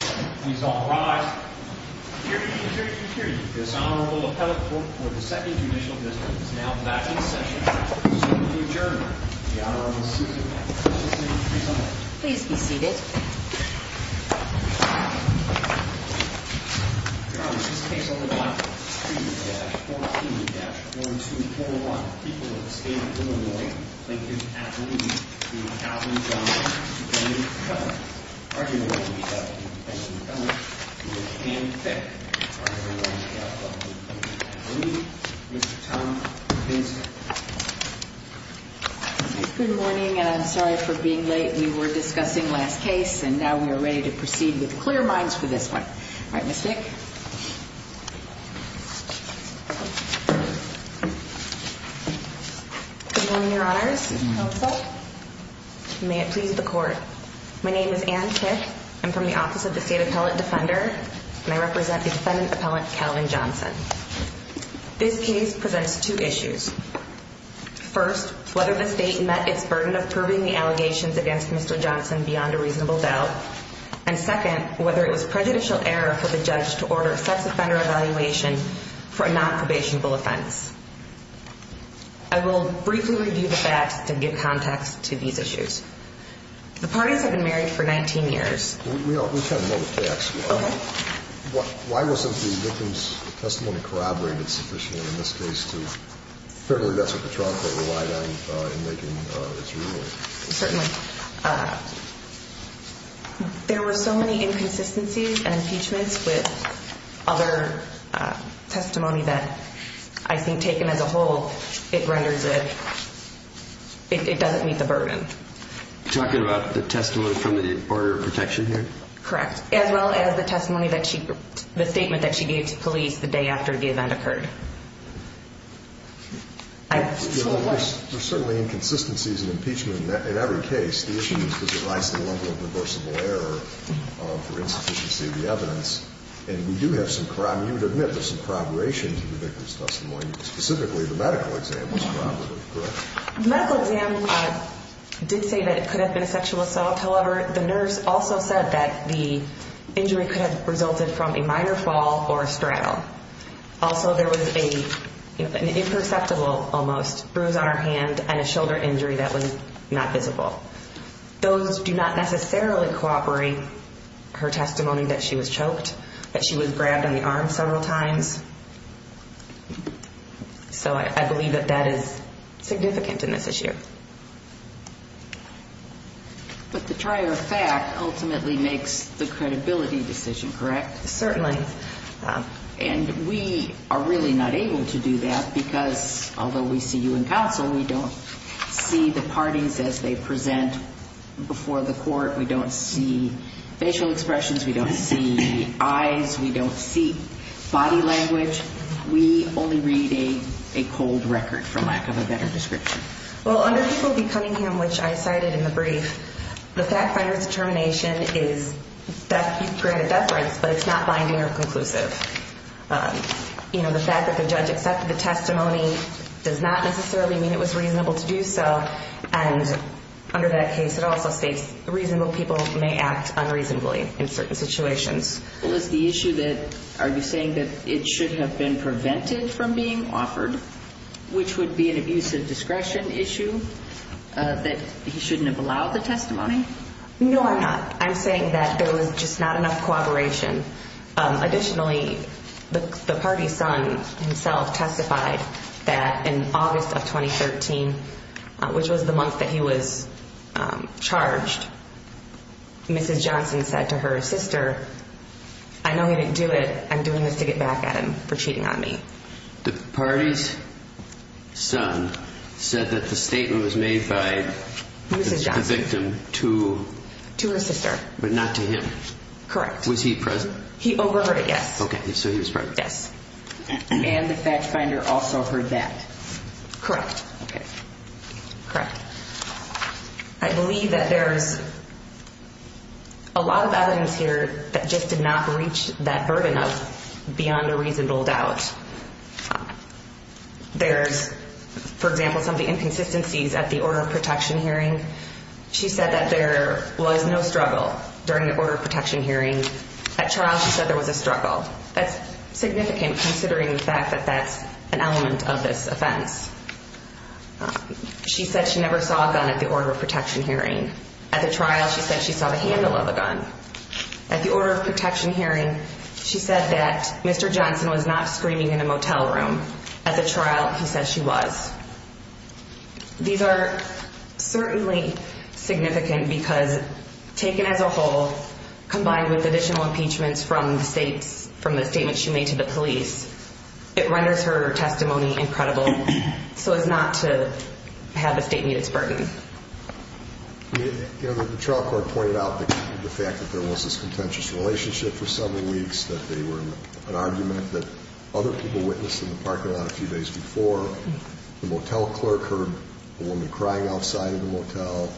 Please all rise. Period, period, period. This Honorable Appellate Court for the Second Judicial Dismissal is now back in session. Soon to adjourn. The Honorable Susan Patterson will present. Please be seated. Your Honor, this case will be filed. 3-14-4241. People of the State of Illinois Lincoln Avenue v. Alvin Johnson v. Cumberland v. Cumberland v. Cumberland v. Cumberland v. Cumberland v. Cumberland Good morning and I'm sorry for being late. We were discussing last case and now we are ready to proceed with clear minds for this one. Alright, Ms. Vick. Good morning, Your Honors. Counsel? May it please the Court. My name is Ann Tick. I'm from the Office of the State Appellate Defender. And I represent the defendant Appellant Calvin Johnson. This case presents two issues. First, whether the State met its burden of proving the allegations against Mr. Johnson beyond a reasonable doubt. And second, whether it was prejudicial error for the judge to order a sex offender evaluation for a non-probationable offense. I will briefly review the facts to give context to these issues. The parties have been married for 19 years. We kind of know the facts. Why wasn't the victim's testimony corroborated sufficiently in this case to fairly that's what the trial court relied on in making its ruling. Certainly. There were so many inconsistencies and impeachments with other testimony that I think taken as a whole, it renders it it doesn't meet the burden. You're talking about the testimony from the Border Protection here? Correct. As well as the testimony that she the statement that she gave to police the day after the event occurred. There's certainly inconsistencies in impeachment in every case. The issue is does it rise to the level of reversible error for insufficiency of the evidence. And we do have some corroboration to the victim's testimony. Specifically the medical exam. The medical exam did say that it could have been a sexual assault. However, the nurse also said that the injury could have resulted from a minor fall or a straddle. Also, there was an imperceptible almost bruise on her hand and a shoulder injury that was not visible. Those do not necessarily corroborate her testimony that she was choked. That she was grabbed on the arm several times. So I believe that that is significant in this issue. But the trier fact ultimately makes the credibility decision, correct? Certainly. And we are really not able to do that because although we see you in counsel, we don't see the parties as they present before the court. We don't see facial expressions. We don't see eyes. We don't see body language. We only read a cold record for lack of a better description. Well, under Cunningham, which I cited in the brief, the fact finder's determination is that you've granted death rights, but it's not binding or conclusive. You know, the fact that the judge accepted the testimony does not necessarily mean it was reasonable to do so. And under that case, it also states reasonable people may act unreasonably in certain situations. Is the issue that, are you saying that it should have been prevented from being offered, which would be an abuse of discretion issue that he shouldn't have allowed the testimony? No, I'm not. I'm saying that there was just not enough cooperation. Additionally, the party's son himself testified that in August of 2013, which was the month that he was charged, Mrs. Johnson said to her sister, I know he didn't do it. I'm doing this to get back at him for cheating on me. The party's son said that the statement was made by the victim to her sister, but not to him. Correct. Was he present? He overheard it, yes. Okay, so he was present. Yes. And the fact finder also heard that. Correct. Correct. I believe that there's a lot of evidence here that just did not reach that burden of beyond a reasonable doubt. There's, for example, some of the inconsistencies at the order of protection hearing. She said that there was no struggle during the order of protection hearing. At trial she said there was a struggle. That's significant considering the fact that that's an element of this offense. She said she never saw a gun at the order of protection hearing. At the trial she said she saw the handle of a gun. At the order of protection hearing, she said that Mr. Johnson was not screaming in a motel room. At the trial, he said she was. These are certainly significant because taken as a whole, combined with additional impeachments from the state, from the statement she made to the police, it renders her testimony incredible so as not to have the state meet its burden. The trial court pointed out the fact that there was this contentious relationship for several weeks, that they were in an argument that other people witnessed in the parking lot a few days before. The motel clerk heard a woman crying outside of the motel.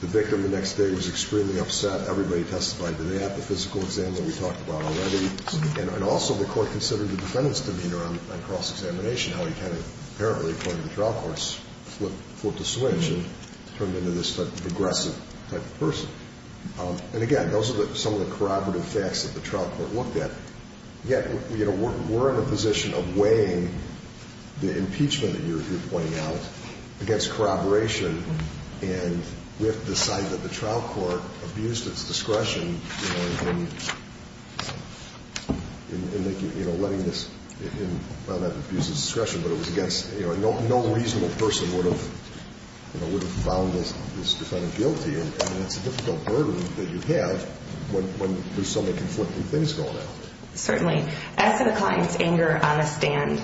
The victim the next day was extremely upset. Everybody testified to that. The physical exam that we talked about already. Also, the court considered the defendant's demeanor on cross-examination, how he apparently, according to the trial courts, flipped a switch and turned into this aggressive type of person. Again, those are some of the corroborative facts that the trial court looked at. Yet, we're in a position of weighing the impeachment that you're pointing out against corroboration and we have to decide that the trial court abused its discretion in letting this abuse its discretion, but it was against, no reasonable person would have found this defendant guilty. It's a difficult burden that you have when there's so many conflicting things going on. Certainly. As to the client's anger on the stand,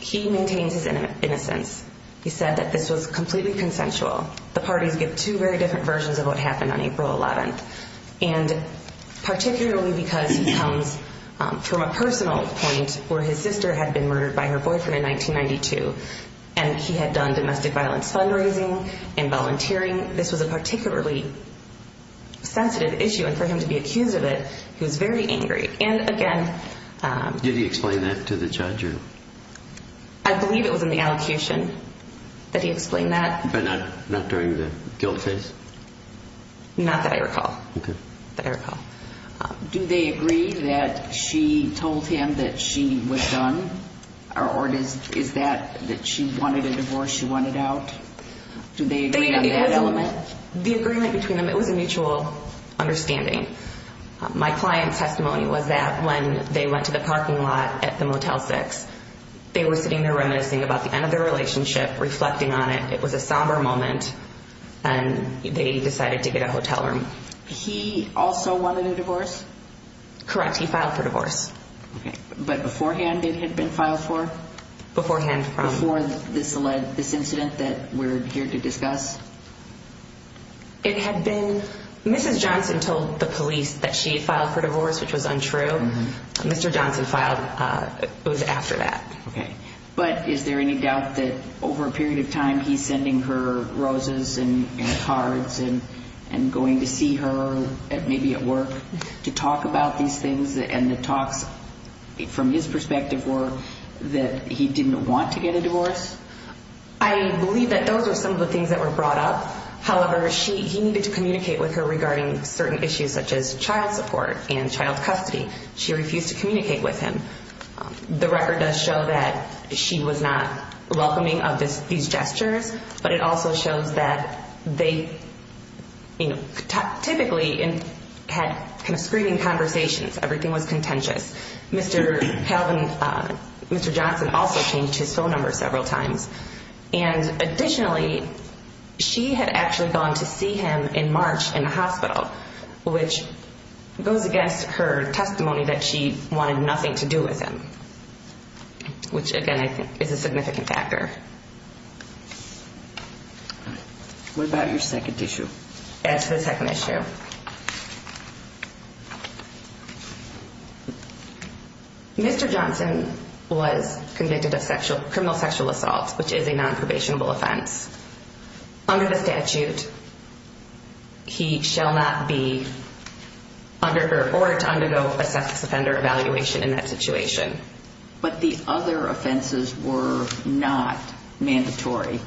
he maintains his innocence. He said that this was completely consensual. The parties get two very different versions of what happened on April 11th. Particularly because he comes from a personal point where his sister had been murdered by her boyfriend in 1992. He had done domestic violence fundraising and volunteering. This was a particularly sensitive issue and for him to be accused of it, he was very angry. Did he explain that to the judge? I believe it was in the allocution that he was guilty. Not that I recall. Do they agree that she told him that she was done? Or is that that she wanted a divorce, she wanted out? Do they agree on that element? The agreement between them, it was a mutual understanding. My client's testimony was that when they went to the parking lot at the Motel 6, they were sitting there reminiscing about the end of their relationship, reflecting on it, it was a somber moment and they decided to get a hotel room. He also wanted a divorce? Correct, he filed for divorce. But beforehand it had been filed for? Beforehand. Before this incident that we're here to discuss? It had been... Mrs. Johnson told the police that she had filed for divorce, which was untrue. Mr. Johnson filed after that. But is there any doubt that over a period of time he's sending her roses and cards and going to see her, maybe at work, to talk about these things and the talks from his perspective were that he didn't want to get a divorce? I believe that those were some of the things that were brought up. However, he needed to communicate with her regarding certain issues such as child support and child custody. She refused to communicate with him. The record does show that she was not welcoming of these gestures, but it also shows that they typically had kind of screaming conversations. Everything was contentious. Mr. Johnson also changed his phone number several times. Additionally, she had actually gone to see him in March in the hospital, which goes against her testimony that she wanted nothing to do with him. Which, again, I think is a significant factor. What about your second issue? Add to the second issue. Mr. Johnson was convicted of criminal sexual assault, which is a non-probationable offense. Under the statute, he shall not be under her to undergo a sex offender evaluation in that situation. The other offenses were not mandatory.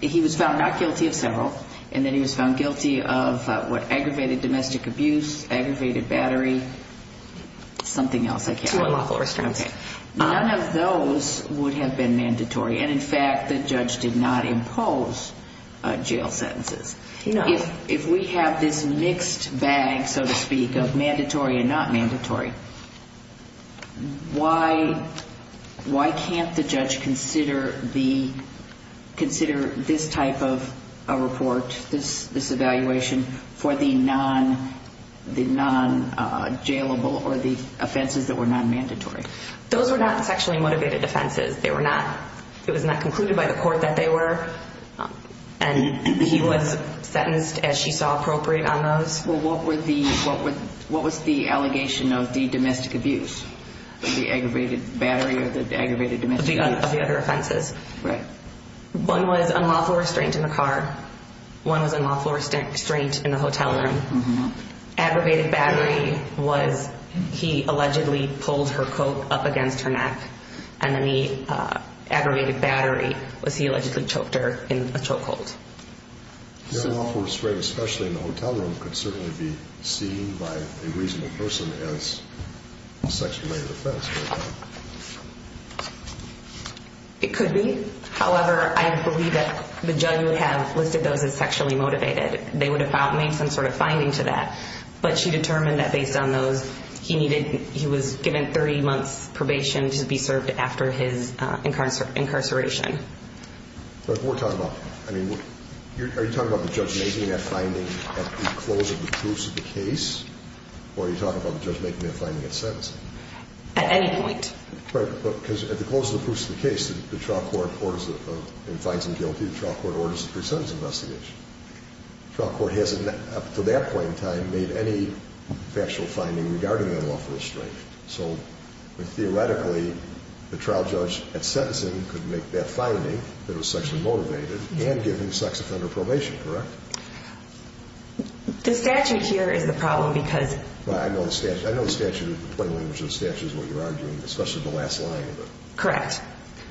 He was found not guilty of several, and then he was found guilty of aggravated domestic abuse, aggravated battery, something else. Two unlawful restraints. None of those would have been mandatory. In fact, the judge did not impose jail sentences. If we have this mixed bag, so to speak, of mandatory and not mandatory, why can't the judge consider this type of report, this evaluation, for the non-jailable or the offenses that were non-mandatory? Those were not sexually motivated offenses. It was not concluded by the court that they were. He was sentenced, as she saw appropriate, on those. What was the allegation of the domestic abuse, the aggravated battery or the aggravated domestic abuse? Of the other offenses. One was unlawful restraint in the car. One was unlawful restraint in the hotel room. Aggravated battery was he allegedly pulled her coat up against her neck. Aggravated battery was he allegedly choked her in a chokehold. Unlawful restraint, especially in the hotel room, could certainly be seen by a reasonable person as a sexually motivated offense. It could be. However, I believe that the judge would have listed those as sexually motivated. They would have made some sort of finding to that. But she determined that based on those, he was given 30 months probation to be served after his incarceration. Are you talking about the judge making that finding at the close of the proofs of the case? Or are you talking about the judge making that finding at sentencing? At any point. Right. Because at the close of the proofs of the case, the trial court finds him guilty. The trial court orders a pre-sentence investigation. The trial court hasn't, up to that point in time, made any factual finding regarding unlawful restraint. So, theoretically, the trial judge at sentencing could make that finding, that it was sexually motivated, and give him sex offender probation, correct? The statute here is the problem because... I know the statute. I know the statute. The plain language of the statute is what you're arguing. Especially the last line of it. Correct.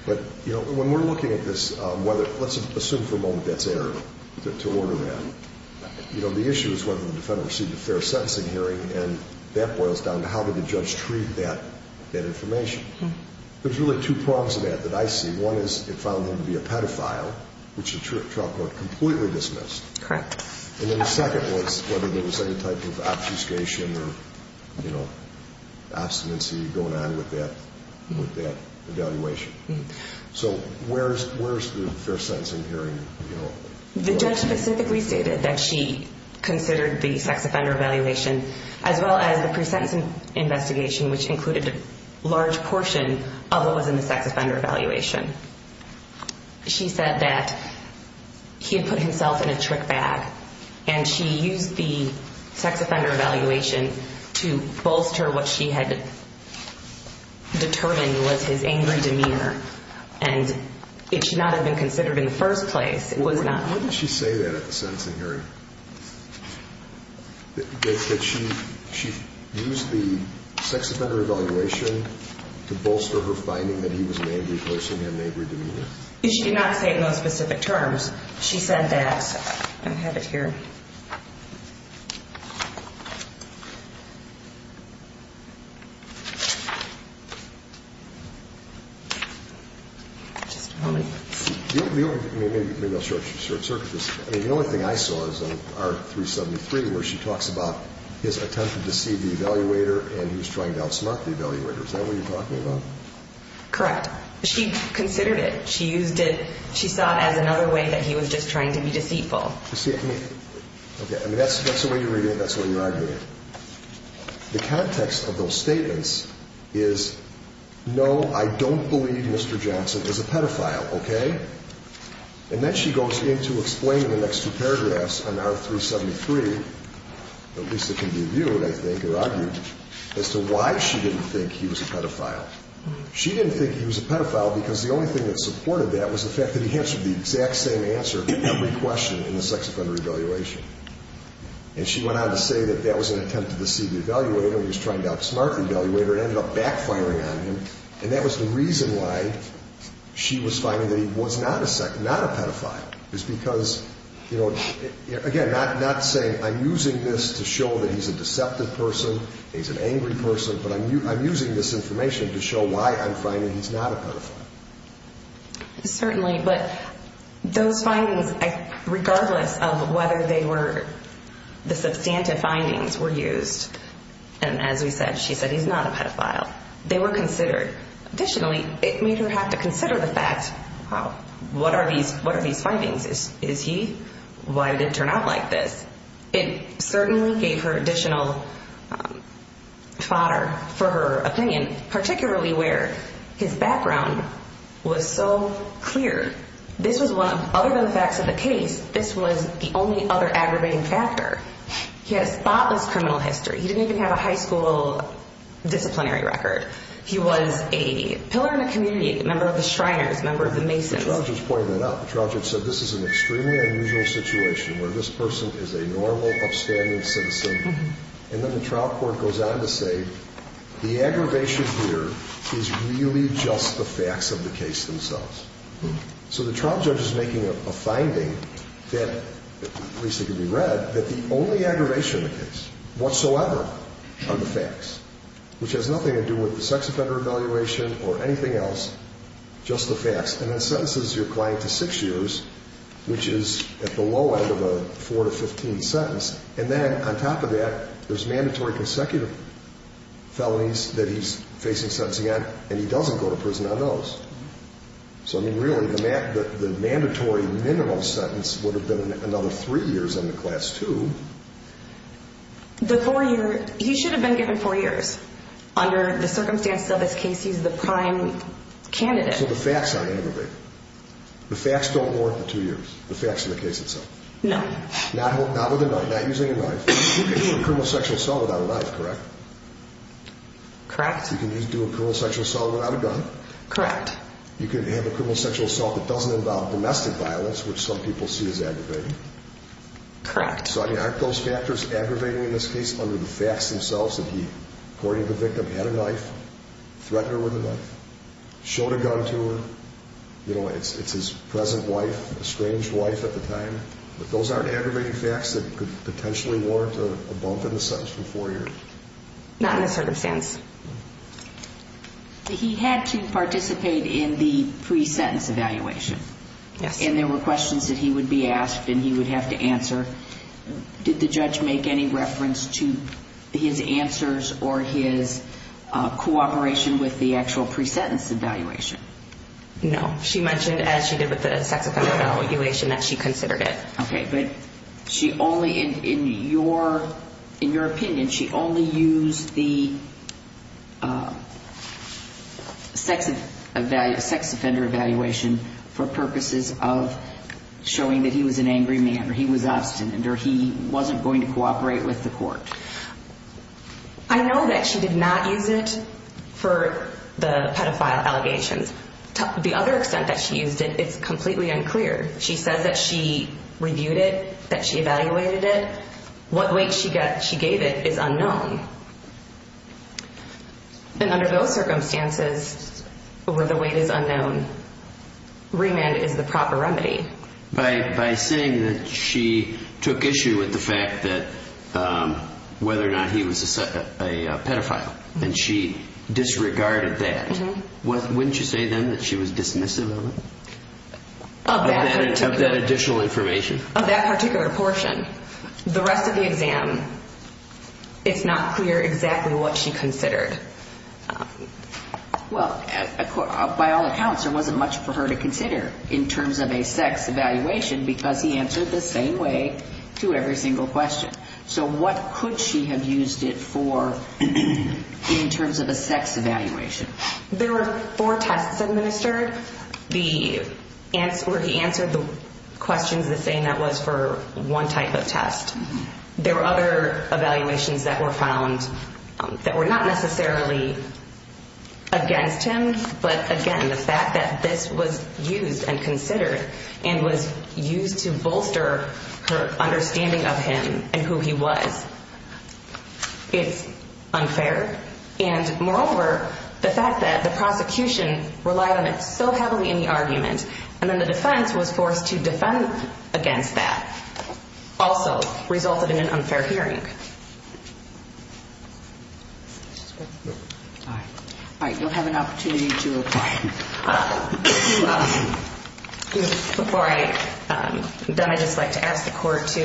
But, you know, when we're looking at this, whether, let's assume for a moment that's error, to order that. You know, the issue is whether the defendant received a fair sentencing hearing, and that boils down to how did the judge treat that information? There's really two prongs to that that I see. One is, it found him to be a pedophile, which the trial court completely dismissed. Correct. And then the second was whether there was any type of obfuscation or, you know, obstinacy going on with that evaluation. So, where's the fair sentencing hearing? The judge specifically stated that she considered the sex offender evaluation. She said that he had put himself in a trick bag, and she used the sex offender evaluation to bolster what she had determined was his angry demeanor. And it should not have been considered in the first place. It was not. How did she say that at the sentencing hearing? That she used the sex offender evaluation to bolster her finding that he was an angry person, he had an angry demeanor? She did not say in those specific terms. She said that I have it here. Maybe I'll short-circuit this. The only thing I saw is in R-373 where she talks about his attempt to deceive the evaluator and he was trying to outsmart the evaluator. Is that what you're talking about? Correct. She considered it. She used it, she saw it as another way that he was just trying to be deceitful. You see, I mean, that's the way you're reading it, that's the way you're arguing it. The context of those statements is no, I don't believe Mr. Johnson is a pedophile, okay? And then she goes into explaining the next two paragraphs on R-373, at least it can be viewed, I think, or argued, as to why she didn't think he was a pedophile. She didn't think he was a pedophile because the only thing that supported that was the fact that he answered the exact same answer to every question in the sex offender evaluation. And she went on to say that that was an attempt to deceive the evaluator and he was trying to outsmart the evaluator and it ended up backfiring on him, and that was the reason why she was finding that he was not a pedophile. It's because, you know, again, not saying I'm using this to show that he's a deceptive person, he's an angry person, but I'm using this information to show why I'm finding he's not a pedophile. Certainly, but those findings, regardless of whether they were the substantive findings were used, and as we said, she said he's not a pedophile. They were considered. Additionally, it made her have to consider the fact, what are these findings? Is he? Why did it turn out like this? It certainly gave her additional fodder for her opinion, particularly where his background was so clear. This was one of, other than the facts of the case, this was the only other aggravating factor. He had a spotless criminal history. He didn't even have a high school disciplinary record. He was a pillar in the community, member of the Shriners, member of the Masons. The trial judge pointed that out. The trial judge said this is an extremely unusual situation where this person is a normal, upstanding citizen, and then the trial court goes on to say the aggravation here is really just the facts of the case themselves. The trial judge is making a finding that, at least it can be read, that the only aggravation in the case whatsoever are the facts, which has nothing to do with anything else, just the facts. And then sentences your client to six years, which is at the low end of a four to fifteen sentence. And then, on top of that, there's mandatory consecutive felonies that he's facing sentencing on, and he doesn't go to prison on those. So, I mean, really, the mandatory minimal sentence would have been another three years under class two. The four year, he should have been given four years under the candidate. So the facts aren't aggravated. The facts don't warrant the two years, the facts of the case itself. No. Not with a knife, not using a knife. You can do a criminal sexual assault without a knife, correct? Correct. You can do a criminal sexual assault without a gun? Correct. You can have a criminal sexual assault that doesn't involve domestic violence, which some people see as aggravating? Correct. So, I mean, aren't those factors aggravating in this case under the facts themselves that he, according to the victim, had a knife, threatened her with a knife, showed a gun to her, you know, it's his present wife, estranged wife at the time, but those aren't aggravating facts that could potentially warrant a bump in the sentence for four years? Not in this circumstance. He had to participate in the pre-sentence evaluation. Yes. And there were questions that he would be asked and he would have to answer. Did the judge make any reference to his answers or his cooperation with the actual pre-sentence evaluation? No. She mentioned, as she did with the sex offender evaluation, that she considered it. Okay, but she only, in your opinion, she only used the sex offender evaluation for that he was an angry man or he was obstinate or he wasn't going to cooperate with the court? I know that she did not use it for the pedophile allegations. The other extent that she used it, it's completely unclear. She says that she reviewed it, that she evaluated it. What weight she gave it is unknown. And under those circumstances where the weight is unknown, remand is the proper remedy. By saying that she took issue with the fact that whether or not he was a pedophile, and she disregarded that, wouldn't you say then that she was dismissive of it? Of that additional information? Of that particular portion. The rest of the exam, it's not clear exactly what she considered. Well, by all accounts, there wasn't much for her to consider in terms of a sex evaluation because he answered the same way to every single question. So what could she have used it for in terms of a sex evaluation? There were four tests administered where he answered the questions the same that was for one type of test. There were other evaluations that were found that were not necessarily against him, but again, the fact that this was used and considered and was used to bolster her understanding of him and who he was. It's unfair, and moreover, the fact that the prosecution relied on it so heavily in the argument, and then the defense was forced to defend against that also resulted in an unfair hearing. All right, you'll have an opportunity to reply. Before I am done, I'd just like to ask the court to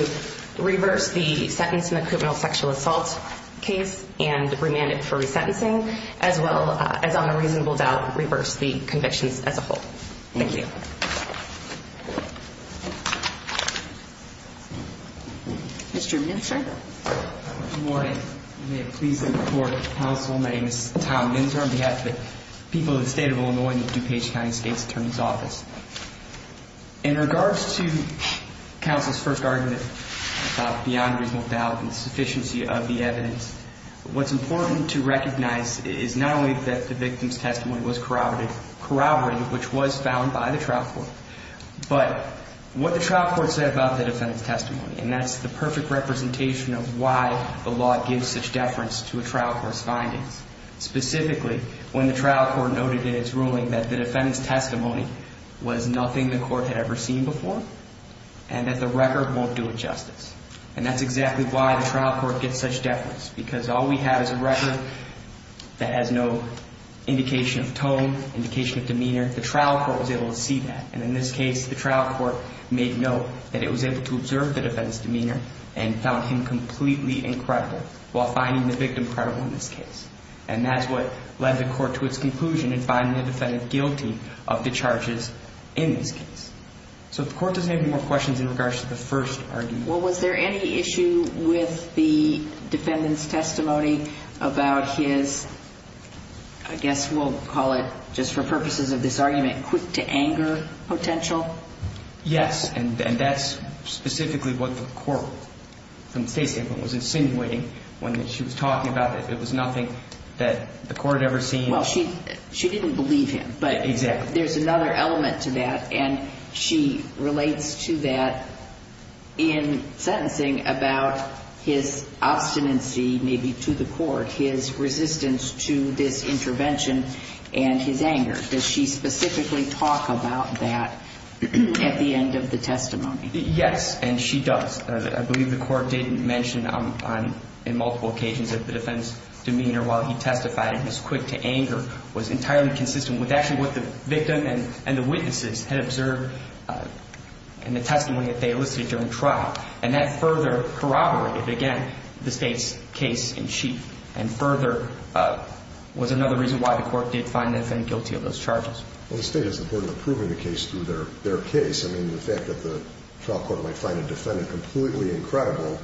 reverse the sentence in the criminal sexual assault case and remand it for resentencing as well as on a reasonable doubt reverse the convictions as a whole. Thank you. Mr. Minster. Good morning. May it please the court, counsel, my name is Tom Minster on behalf of the people of the state of Illinois and the DuPage County State's Attorney's Office. In regards to counsel's first argument about beyond reasonable doubt and the sufficiency of the evidence, what's important to recognize is not only that the victim's testimony was corroborated, which was found by the trial court, but what the trial court said about the defendant's testimony, and that's the perfect representation of why the law gives such deference to a trial court's findings, specifically when the trial court noted in its ruling that the defendant's testimony was nothing the court had ever seen before and that the record won't do it justice. And that's exactly why the trial court gets such deference, because all we have is a record that has no indication of tone, indication of demeanor. The trial court was able to see that, and in this case the trial court made note that it was able to observe the defendant's demeanor and found him completely incredible, while finding the victim credible in this case. And that's what led the court to its conclusion in finding the defendant guilty of the charges in this case. So the court doesn't have any more questions in regards to the first argument. Well, was there any issue with the defendant's testimony about his I guess we'll call it, just for purposes of this argument, quick to anger potential? Yes, and that's specifically what the court from the state's standpoint was insinuating when she was talking about it. It was nothing that the court had ever seen. Well, she didn't believe him, but there's another element to that, and she relates to that in sentencing about his obstinacy, maybe to the court, his resistance to this intervention and his anger. Does she specifically talk about that at the end of the testimony? Yes, and she does. I believe the court did mention on multiple occasions that the defendant's demeanor while he testified in his quick to anger was entirely consistent with actually what the victim and the witnesses had observed in the testimony that they elicited during trial, and that further corroborated, again, the state's case in chief and further was another reason why the court did find the defendant guilty of those charges. Well, the state is important in proving the case through their case. I mean, the fact that the trial court might find a defendant completely incredible,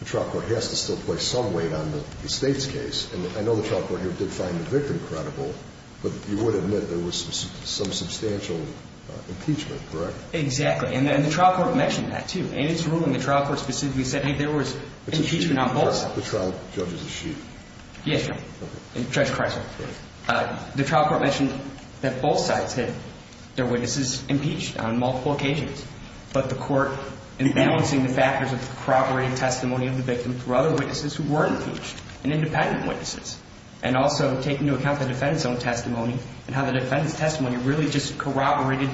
the trial court has to still place some weight on the state's case, and I know the trial court here did find the victim credible, but you would admit there was some substantial impeachment, correct? Exactly, and the trial court mentioned that, too, and it's ruling the trial court specifically said, hey, there was impeachment on both sides. The trial judge is a sheep. Yes, Judge. Judge Kreisler. The trial court mentioned that both sides had their witnesses impeached on multiple occasions, but the court in balancing the factors of the corroborated testimony of the victim through other witnesses who weren't impeached and independent witnesses and also taking into account the defendant's own testimony and how the defendant's testimony really just corroborated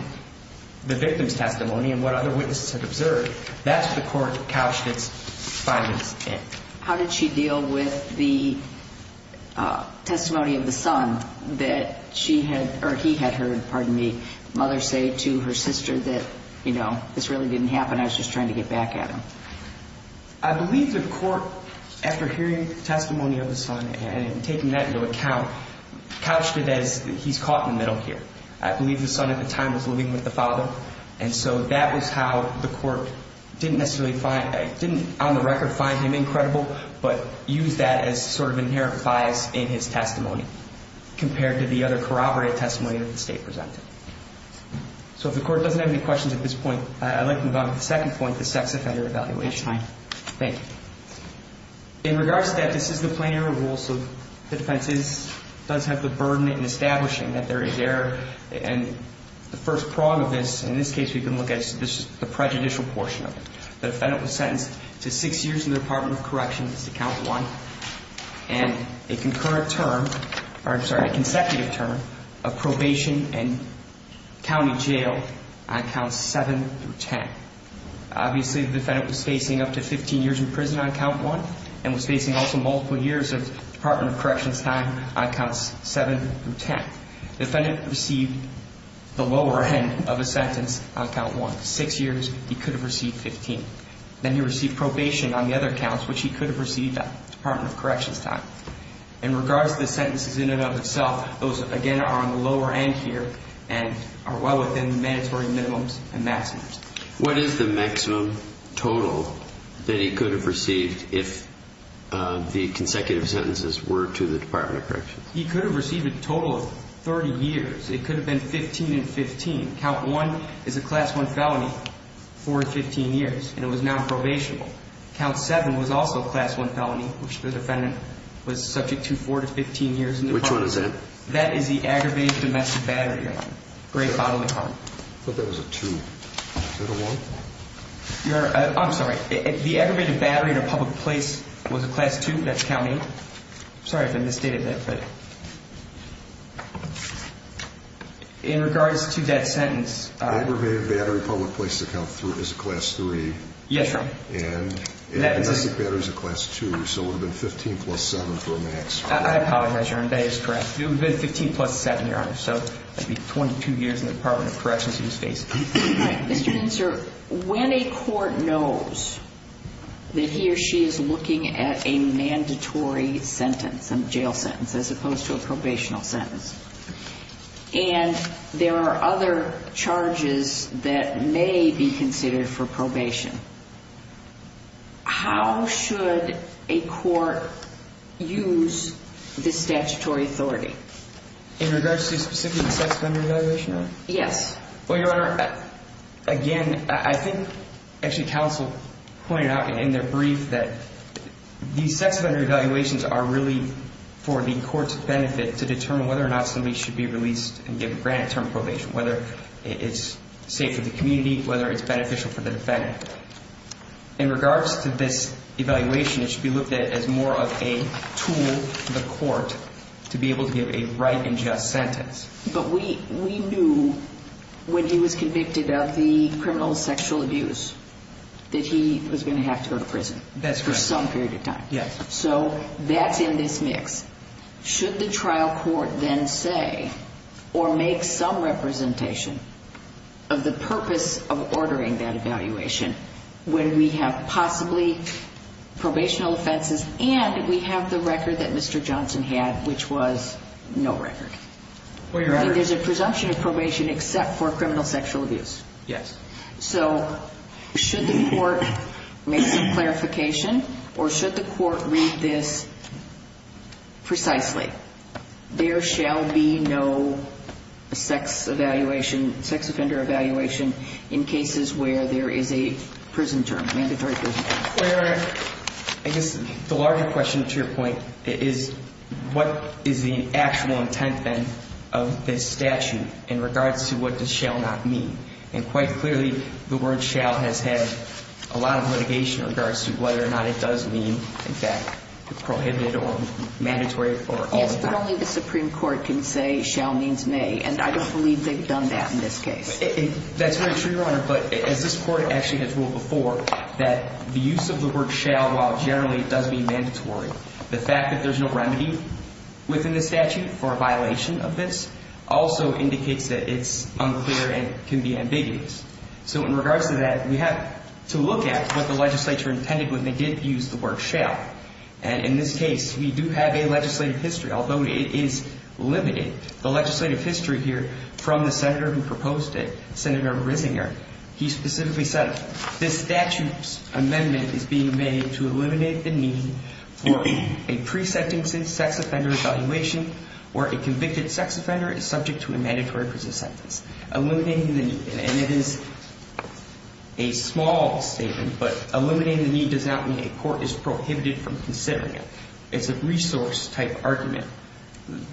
the victim's testimony and what other witnesses had observed, that's what the court couched its findings in. How did she deal with the testimony of the son that she had, or he had heard, pardon me, mother say to her sister that this really didn't happen, I was just trying to get back at him? I believe the court, after hearing the testimony of the son and taking that into account, couched it as he's caught in the middle here. I believe the son at the time was living with the father, and so that was how the court didn't necessarily on the record find him incredible, but used that as sort of inherent bias in his testimony compared to the other corroborated testimony that the state presented. So if the court doesn't have any questions at this point, I'd like to move on to the second point, the sex offender evaluation. That's fine. Thank you. In regards to that, this is the plain error rule, so the defense does have the burden in establishing that there is error and the first prong of this in this case we can look at is the prejudicial portion of it. The defendant was sentenced to six years in the Department of Corrections to count one and a concurrent term or I'm sorry, a consecutive term of probation and county jail on counts seven through ten. Obviously the defendant was facing up to fifteen years in prison on count one and was facing also multiple years of Department of Corrections time on counts seven through ten. The defendant received the lower end of a sentence on count one. Six years Then he received probation on the other counts which he could have received on Department of Corrections time. In regards to the sentences in and of itself, those again are on the lower end here and are well within mandatory minimums and maximums. What is the maximum total that he could have received if the consecutive sentences were to the Department of Corrections? He could have received a total of thirty years. It could have been fifteen and fifteen. Count one is a class one felony for fifteen years and it was not probationable. Count seven was also a class one felony which the defendant was subject to four to fifteen years. Which one is that? That is the aggravated domestic battery. I thought that was a two. Is that a one? I'm sorry. The aggravated battery in a public place was a class two that's count eight. Sorry if I misstated that. In regards to that sentence Aggravated battery in a public place is a class three. Yes sir. And domestic battery is a class two so it would have been fifteen plus seven for a maximum. I apologize Your Honor. That is correct. It would have been fifteen plus seven Your Honor. So that would be twenty-two years in the Department of Corrections he was facing. Mr. Hensar, when a court knows that he or she is looking at a mandatory sentence, a jail sentence as opposed to a probational sentence and there are other charges that may be considered for probation, how should a court use the statutory authority? In regards to specifically the sex offender evaluation? Yes. Well Your Honor, again I think actually counsel pointed out in their brief that the sex offender evaluations are really for the court's benefit to determine whether or not somebody should be released and given granted term probation. Whether it's safe for the community, whether it's beneficial for the defendant. In regards to this evaluation it should be looked at as more of a tool for the court to be able to give a right and just sentence. But we knew when he was convicted of the criminal sexual abuse that he was going to have to go to prison. That's correct. For some period of time. So that's in this mix. Should the trial court then say or make some representation of the purpose of ordering that evaluation when we have possibly probational offenses and we have the record that Mr. Johnson had which was no record. There's a presumption of probation except for criminal sexual abuse. Yes. So should the court make some clarification or should the court read this precisely? There shall be no sex evaluation sex offender evaluation in cases where there is a prison term, mandatory prison term. Wait a minute. I guess the larger question to your point is what is the actual intent then of this statute in regards to what does shall not mean. And quite clearly the word shall has had a lot of litigation in regards to whether or not it does mean in fact prohibited or mandatory for all the time. Yes, but only the Supreme Court can say shall means may and I don't believe they've done that in this case. That's very true, Your Honor, but as this court actually has ruled before that the use of the word shall while generally it does mean mandatory, the fact that there's no remedy within the statute for a violation of this also indicates that it's unclear and can be ambiguous. So in regards to that, we have to look at what the legislature intended when they did use the word shall. And in this case, we do have a legislative history, although it is limited. The legislative history here from the senator who proposed it, Senator Rissinger, he specifically said this statute's amendment is being made to eliminate the need for a pre-sentencing sex offender evaluation where a convicted sex offender is subject to a mandatory prison sentence. Eliminating the need, and it is a small statement, but eliminating the need does not mean a court is prohibited from considering it. It's a resource type argument.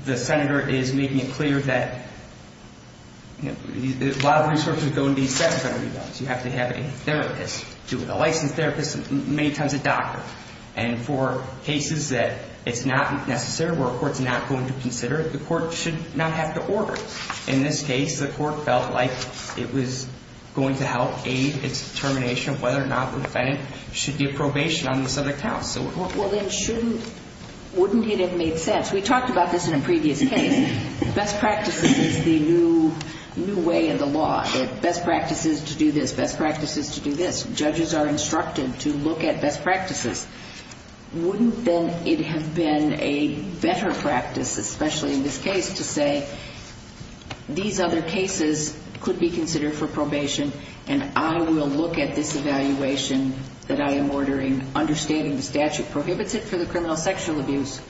The senator is making it clear that a lot of resources go into these sex offender evaluations. You have to have a therapist do it, a licensed therapist, many times a doctor. And for cases that it's not necessary, where a court's not going to consider it, the court should not have to order it. In this case, the court felt like it was going to help aid its determination of whether or not the defendant should get probation on the subject counts. Well then, wouldn't it have made sense? We talked about this in a previous case. Best practices is the new way of the law. Best practices to do this, best practices to do this. Judges are instructed to look at best practices. Wouldn't then it have been a better practice, especially in this case, to say these other cases could be considered for probation and I will look at this evaluation that I am ordering understating the statute prohibits it for the criminal sexual abuse,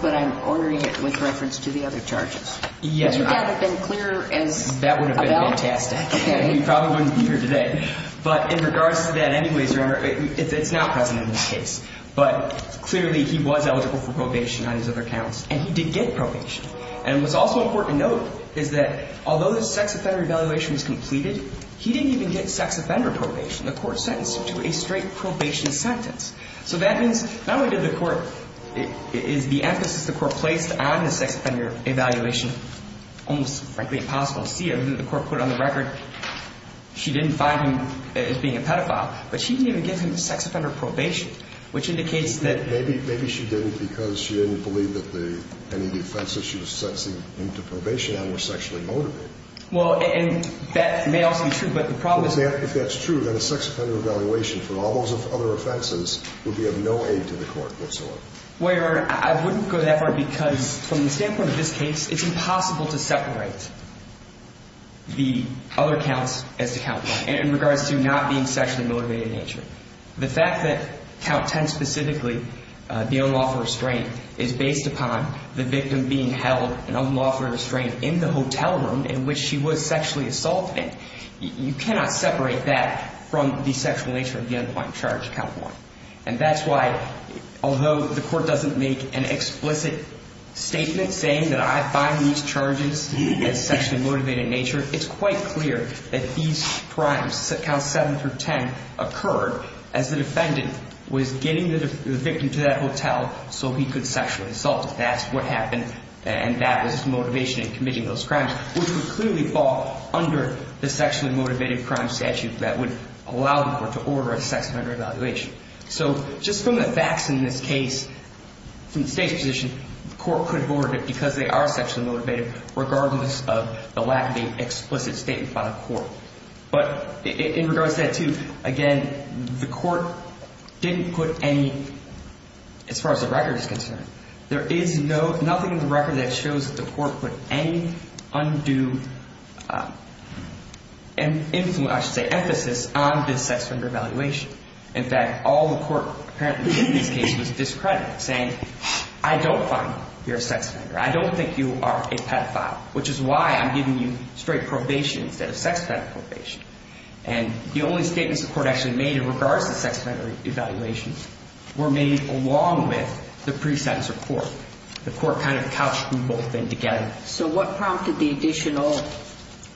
but I'm ordering it with reference to the other charges. Would that have been clearer as a bell? That would have been fantastic. We probably wouldn't be here today. But in regards to that anyways, it's not present in this case, but clearly he was eligible for probation on his other counts, and he did get probation. And what's also important to note is that although the sex offender evaluation was completed, he didn't even get sex offender probation. The court sentenced him to a straight probation sentence. So that means not only did the court is the emphasis the court placed on the sex offender evaluation almost frankly impossible to see. The court put on the record she didn't find him as being a pedophile, but she didn't even give him sex offender probation, which indicates that Maybe she didn't because she didn't believe that any of the offenses that she was sentencing him to probation were sexually motivated. That may also be true, but the problem is If that's true, then a sex offender evaluation for all those other offenses would be of no aid to the court whatsoever. I wouldn't go that far because from the standpoint of this case, it's impossible to separate the other counts as to count one in regards to not being sexually motivated in nature. The fact that count 10 specifically the unlawful restraint is based upon the victim being held an unlawful restraint in the hotel room in which she was sexually assaulted, you cannot separate that from the sexual nature of the unlawful charge, count one. And that's why, although the court doesn't make an explicit statement saying that I find these charges as sexually motivated in nature, it's quite clear that these crimes, count 7 through 10, occurred as the defendant was getting the sexually assaulted. That's what happened and that was the motivation in committing those crimes, which would clearly fall under the sexually motivated crime statute that would allow the court to order a sex offender evaluation. So, just from the facts in this case from the state's position, the court could have ordered it because they are sexually motivated, regardless of the lack of an explicit statement by the court. But, in regards to that too, again, the court didn't put any as far as the record is concerned, there is nothing in the record that shows that the court put any undue emphasis on this sex offender evaluation. In fact, all the court apparently did in this case was discredit saying, I don't find you a sex offender, I don't think you are a pedophile, which is why I'm giving you straight probation instead of sex offender probation. And the only statements the court actually made in regards to sex were made along with the pre-sentence report. The court kind of couched them both in together. So, what prompted the additional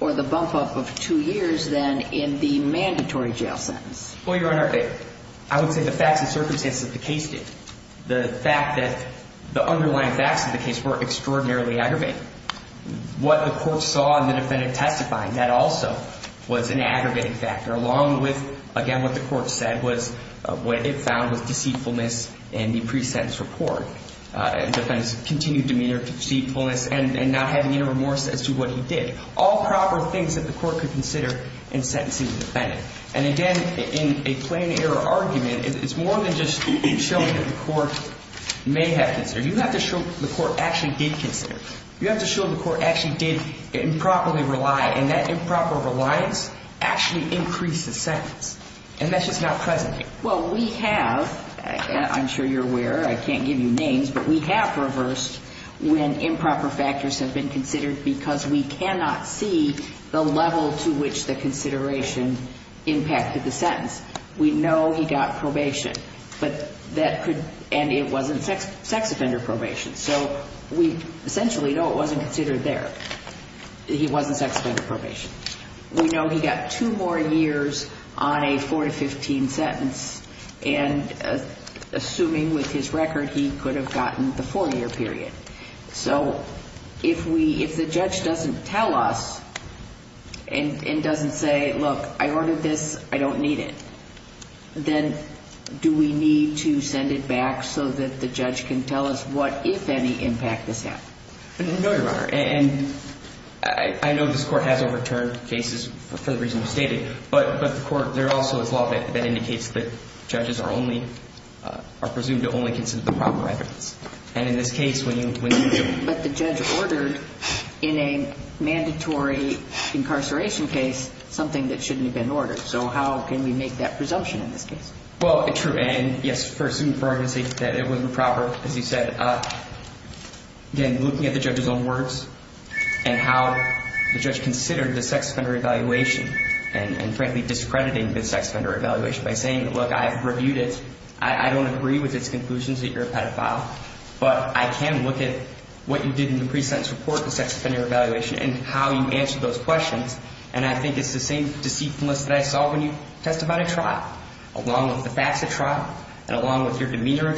or the bump up of two years then in the mandatory jail sentence? Well, Your Honor, I would say the facts and circumstances of the case did. The fact that the underlying facts of the case were extraordinarily aggravating. What the court saw in the defendant testifying, that also was an aggravating factor along with, again, what the court said was, what it found was deceitfulness in the pre-sentence report. Defendant's continued demeanor, deceitfulness, and not having any remorse as to what he did. All proper things that the court could consider in sentencing the defendant. And again, in a plain error argument, it's more than just showing that the court may have considered. You have to show the court actually did consider. You have to show the court actually did improperly rely, and that improper reliance actually increased the sentence. And that's just not present. Well, we have, I'm sure you're aware, I can't give you names, but we have reversed when improper factors have been considered because we cannot see the level to which the consideration impacted the sentence. We know he got probation, but that could, and it wasn't sex offender probation. So, we essentially know it wasn't considered there. He wasn't sex offender probation. We know he got two more years on a 4-15 sentence, and assuming with his record he could have gotten the 4-year period. So, if the judge doesn't tell us and doesn't say, look, I ordered this, I don't need it, then do we need to send it back so that the judge can tell us what, if any, impact this had? No, Your Honor. And I know this Court has overturned cases for the reason you stated, but the Court, there also is law that indicates that judges are only, are presumed to only consider the proper evidence. And in this case, when you But the judge ordered, in a mandatory incarceration case, something that shouldn't have been ordered. So, how can we make that presumption in this case? Well, true, and yes, for argument's sake, that it wasn't proper, as you said, and again, looking at the judge's own words, and how the judge considered the sex offender evaluation, and frankly discrediting the sex offender evaluation by saying, look, I've reviewed it, I don't agree with its conclusions that you're a pedophile, but I can look at what you did in the pre-sentence report of the sex offender evaluation, and how you answered those questions, and I think it's the same deceitfulness that I saw when you testified at trial, along with the facts at trial, and along with your testimony at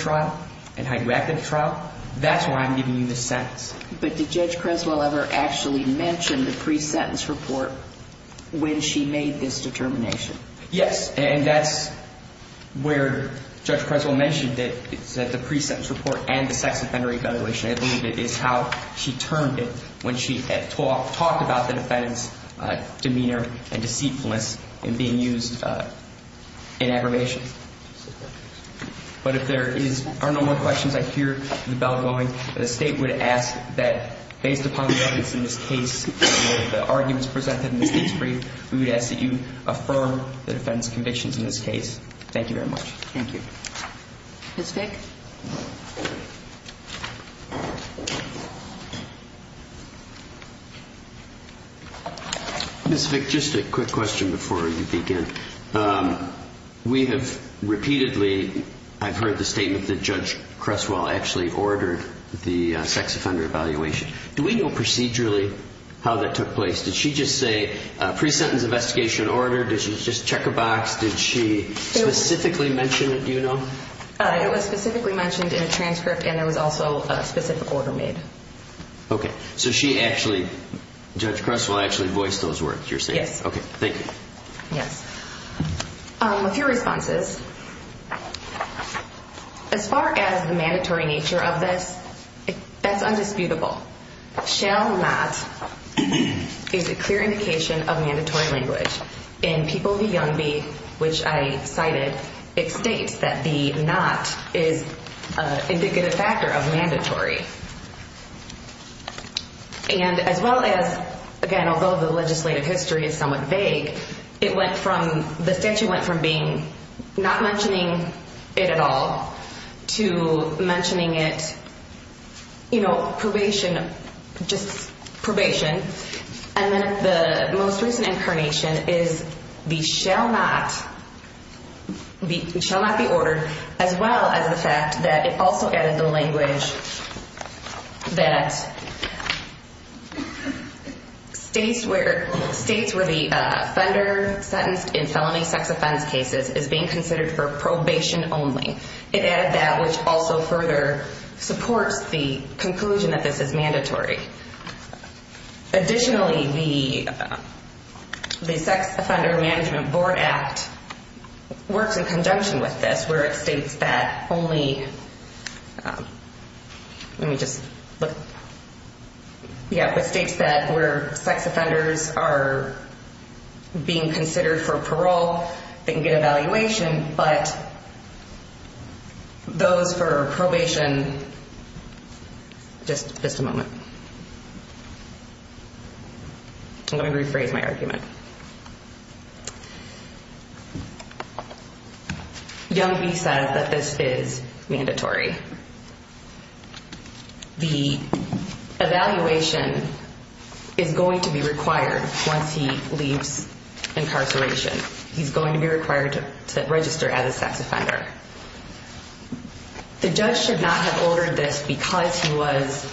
trial. That's why I'm giving you this sentence. But did Judge Creswell ever actually mention the pre-sentence report when she made this determination? Yes, and that's where Judge Creswell mentioned that the pre-sentence report and the sex offender evaluation, I believe it is how she termed it, when she had talked about the defendant's demeanor and deceitfulness in being used in aggravation. But if there are no more questions, I hear the bell going. The State would ask that based upon the evidence in this case and the arguments presented in this case brief, we would ask that you affirm the defendant's convictions in this case. Thank you very much. Thank you. Ms. Vick? Ms. Vick, just a quick question before you begin. We have repeatedly, I've heard the statement that Judge Creswell actually ordered the sex offender evaluation. Do we know procedurally how that took place? Did she just say, pre-sentence investigation order? Did she just check a box? Did she specifically mention it? Do you know? It was specifically mentioned in a transcript, and there was also a specific order made. Okay. So she actually, Judge Creswell actually voiced those words, you're saying? Yes. Okay. Thank you. Yes. A few responses. As far as the mandatory nature of this, that's undisputable. Shall not is a clear indication of mandatory language. In People v. Youngby, which I cited, it states that the not is indicative factor of mandatory. And as well as, again, although the legislative history is somewhat vague, it went from the statute went from being not mentioning it at all to mentioning it you know, probation, just probation, and then the most recent incarnation is the shall not shall not be ordered as well as the fact that it also added the language that states where the offender sentenced in felony sex offense cases is being considered for probation only. It added that, which also further supports the conclusion that this is mandatory. Additionally, the Sex Offender Management Board Act works in conjunction with this, where it states that only let me just look yeah, it states that where sex offenders are being considered for parole they can get evaluation, but those for probation just a moment let me rephrase my argument Youngby says that this is mandatory. The evaluation is going to be required once he leaves incarceration. He's going to be required to register as a sex offender. The judge should not have ordered this because he was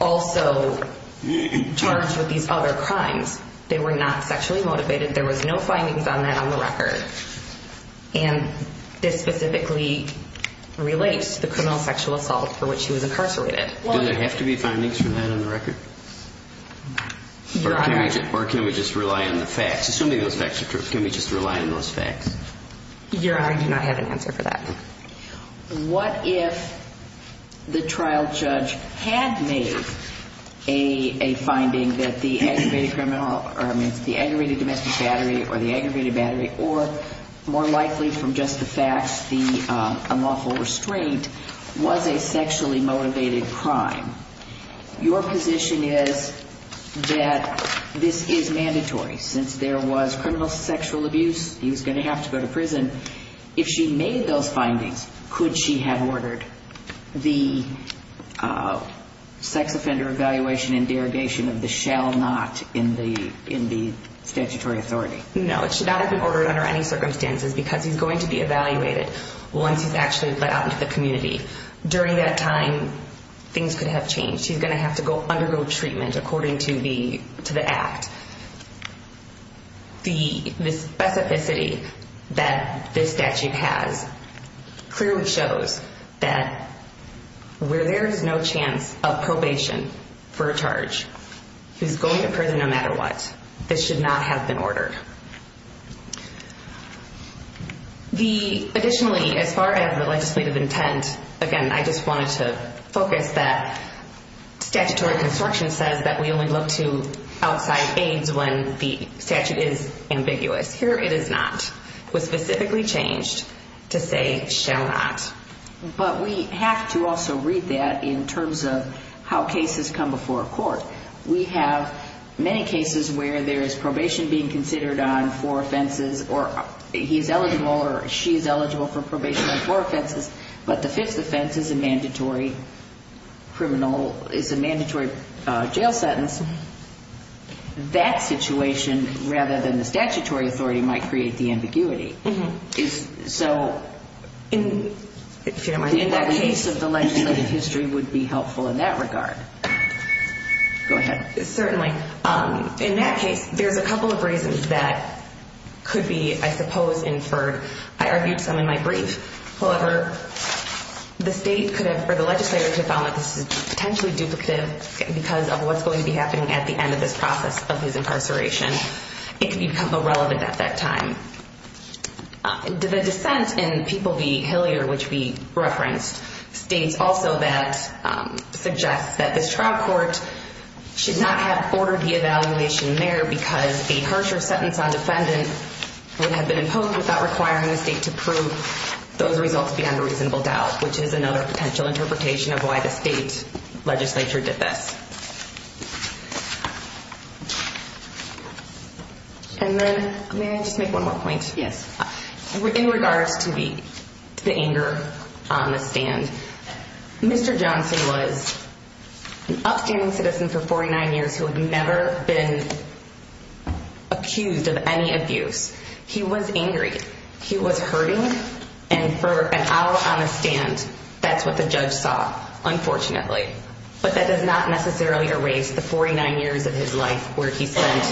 also charged with these other crimes. They were not sexually motivated. There was no findings on that on the record. And this specifically relates to the criminal sexual assault for which he was incarcerated. Do there have to be findings for that on the record? Or can we just rely on the facts? Assuming those facts are true, can we just rely on those facts? Your Honor, I do not have an answer for that. What if the trial judge had made a finding that the aggravated criminal or the aggravated domestic battery or the aggravated battery or more likely from just the facts the unlawful restraint was a sexually motivated crime. Your position is that this is mandatory since there was criminal sexual abuse, he was going to have to go to prison. If she made those findings, could she have ordered the sex offender evaluation and derogation of the shall not in the statutory authority? No, it should not have been ordered under any circumstances because he's going to be evaluated once he's actually let out into the community. During that time things could have changed. He's going to have to undergo treatment according to the act. The specificity that this statute has clearly shows that where there is no chance of probation for a charge he's going to prison no matter what. This should not have been ordered. Additionally, as far as the legislative intent, again, I just wanted to focus that statutory construction says that we only look to outside aides when the statute is ambiguous. Here it is not. It was specifically changed to say shall not. But we have to also read that in terms of how cases come before court. We have many cases where there is probation being considered on four offenses or he's eligible or she's eligible for probation on four offenses, but the fifth offense is a mandatory criminal, is a mandatory jail sentence. That situation rather than the statutory authority might create the ambiguity. So in that case of the legislative history would be helpful in that regard. Certainly. In that case, there's a couple of reasons that could be, I suppose, inferred. I argued some in my brief. However, the state could have, or the legislator could have found that this is potentially duplicative because of what's going to be happening at the end of this process of his incarceration. It could become irrelevant at that time. The dissent in People v. Hillier which we referenced states also that suggests that this trial court should not have ordered the evaluation there because a harsher sentence on defendant would have been imposed without requiring the state to prove those results beyond a reasonable doubt, which is another potential interpretation of why the state legislature did this. May I just make one more point? In regards to the anger on the defendant, he was an upstanding citizen for 49 years who had never been accused of any abuse. He was angry. He was hurting, and for an hour on a stand, that's what the judge saw, unfortunately. But that does not necessarily erase the 49 years of his life where he spent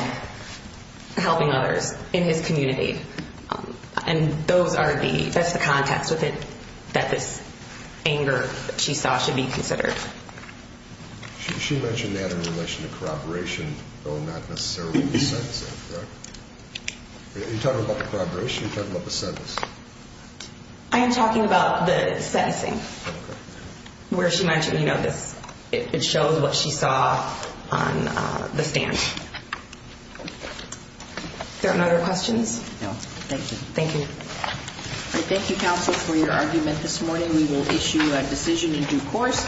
helping others in his community. And that's the context that this anger that she saw should be considered. She mentioned that in relation to corroboration, though not necessarily the sentencing, correct? You're talking about the corroboration? You're talking about the sentencing? I am talking about the sentencing where she mentioned, you know, on the stand. Are there any other questions? No. Thank you. Thank you, Counsel, for your argument this morning. We will issue a decision in due course.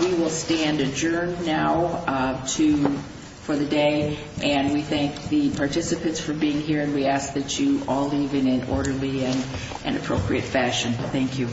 We will stand adjourned now for the day, and we thank the participants for being here, and we ask that you all leave in an orderly and appropriate fashion. Thank you.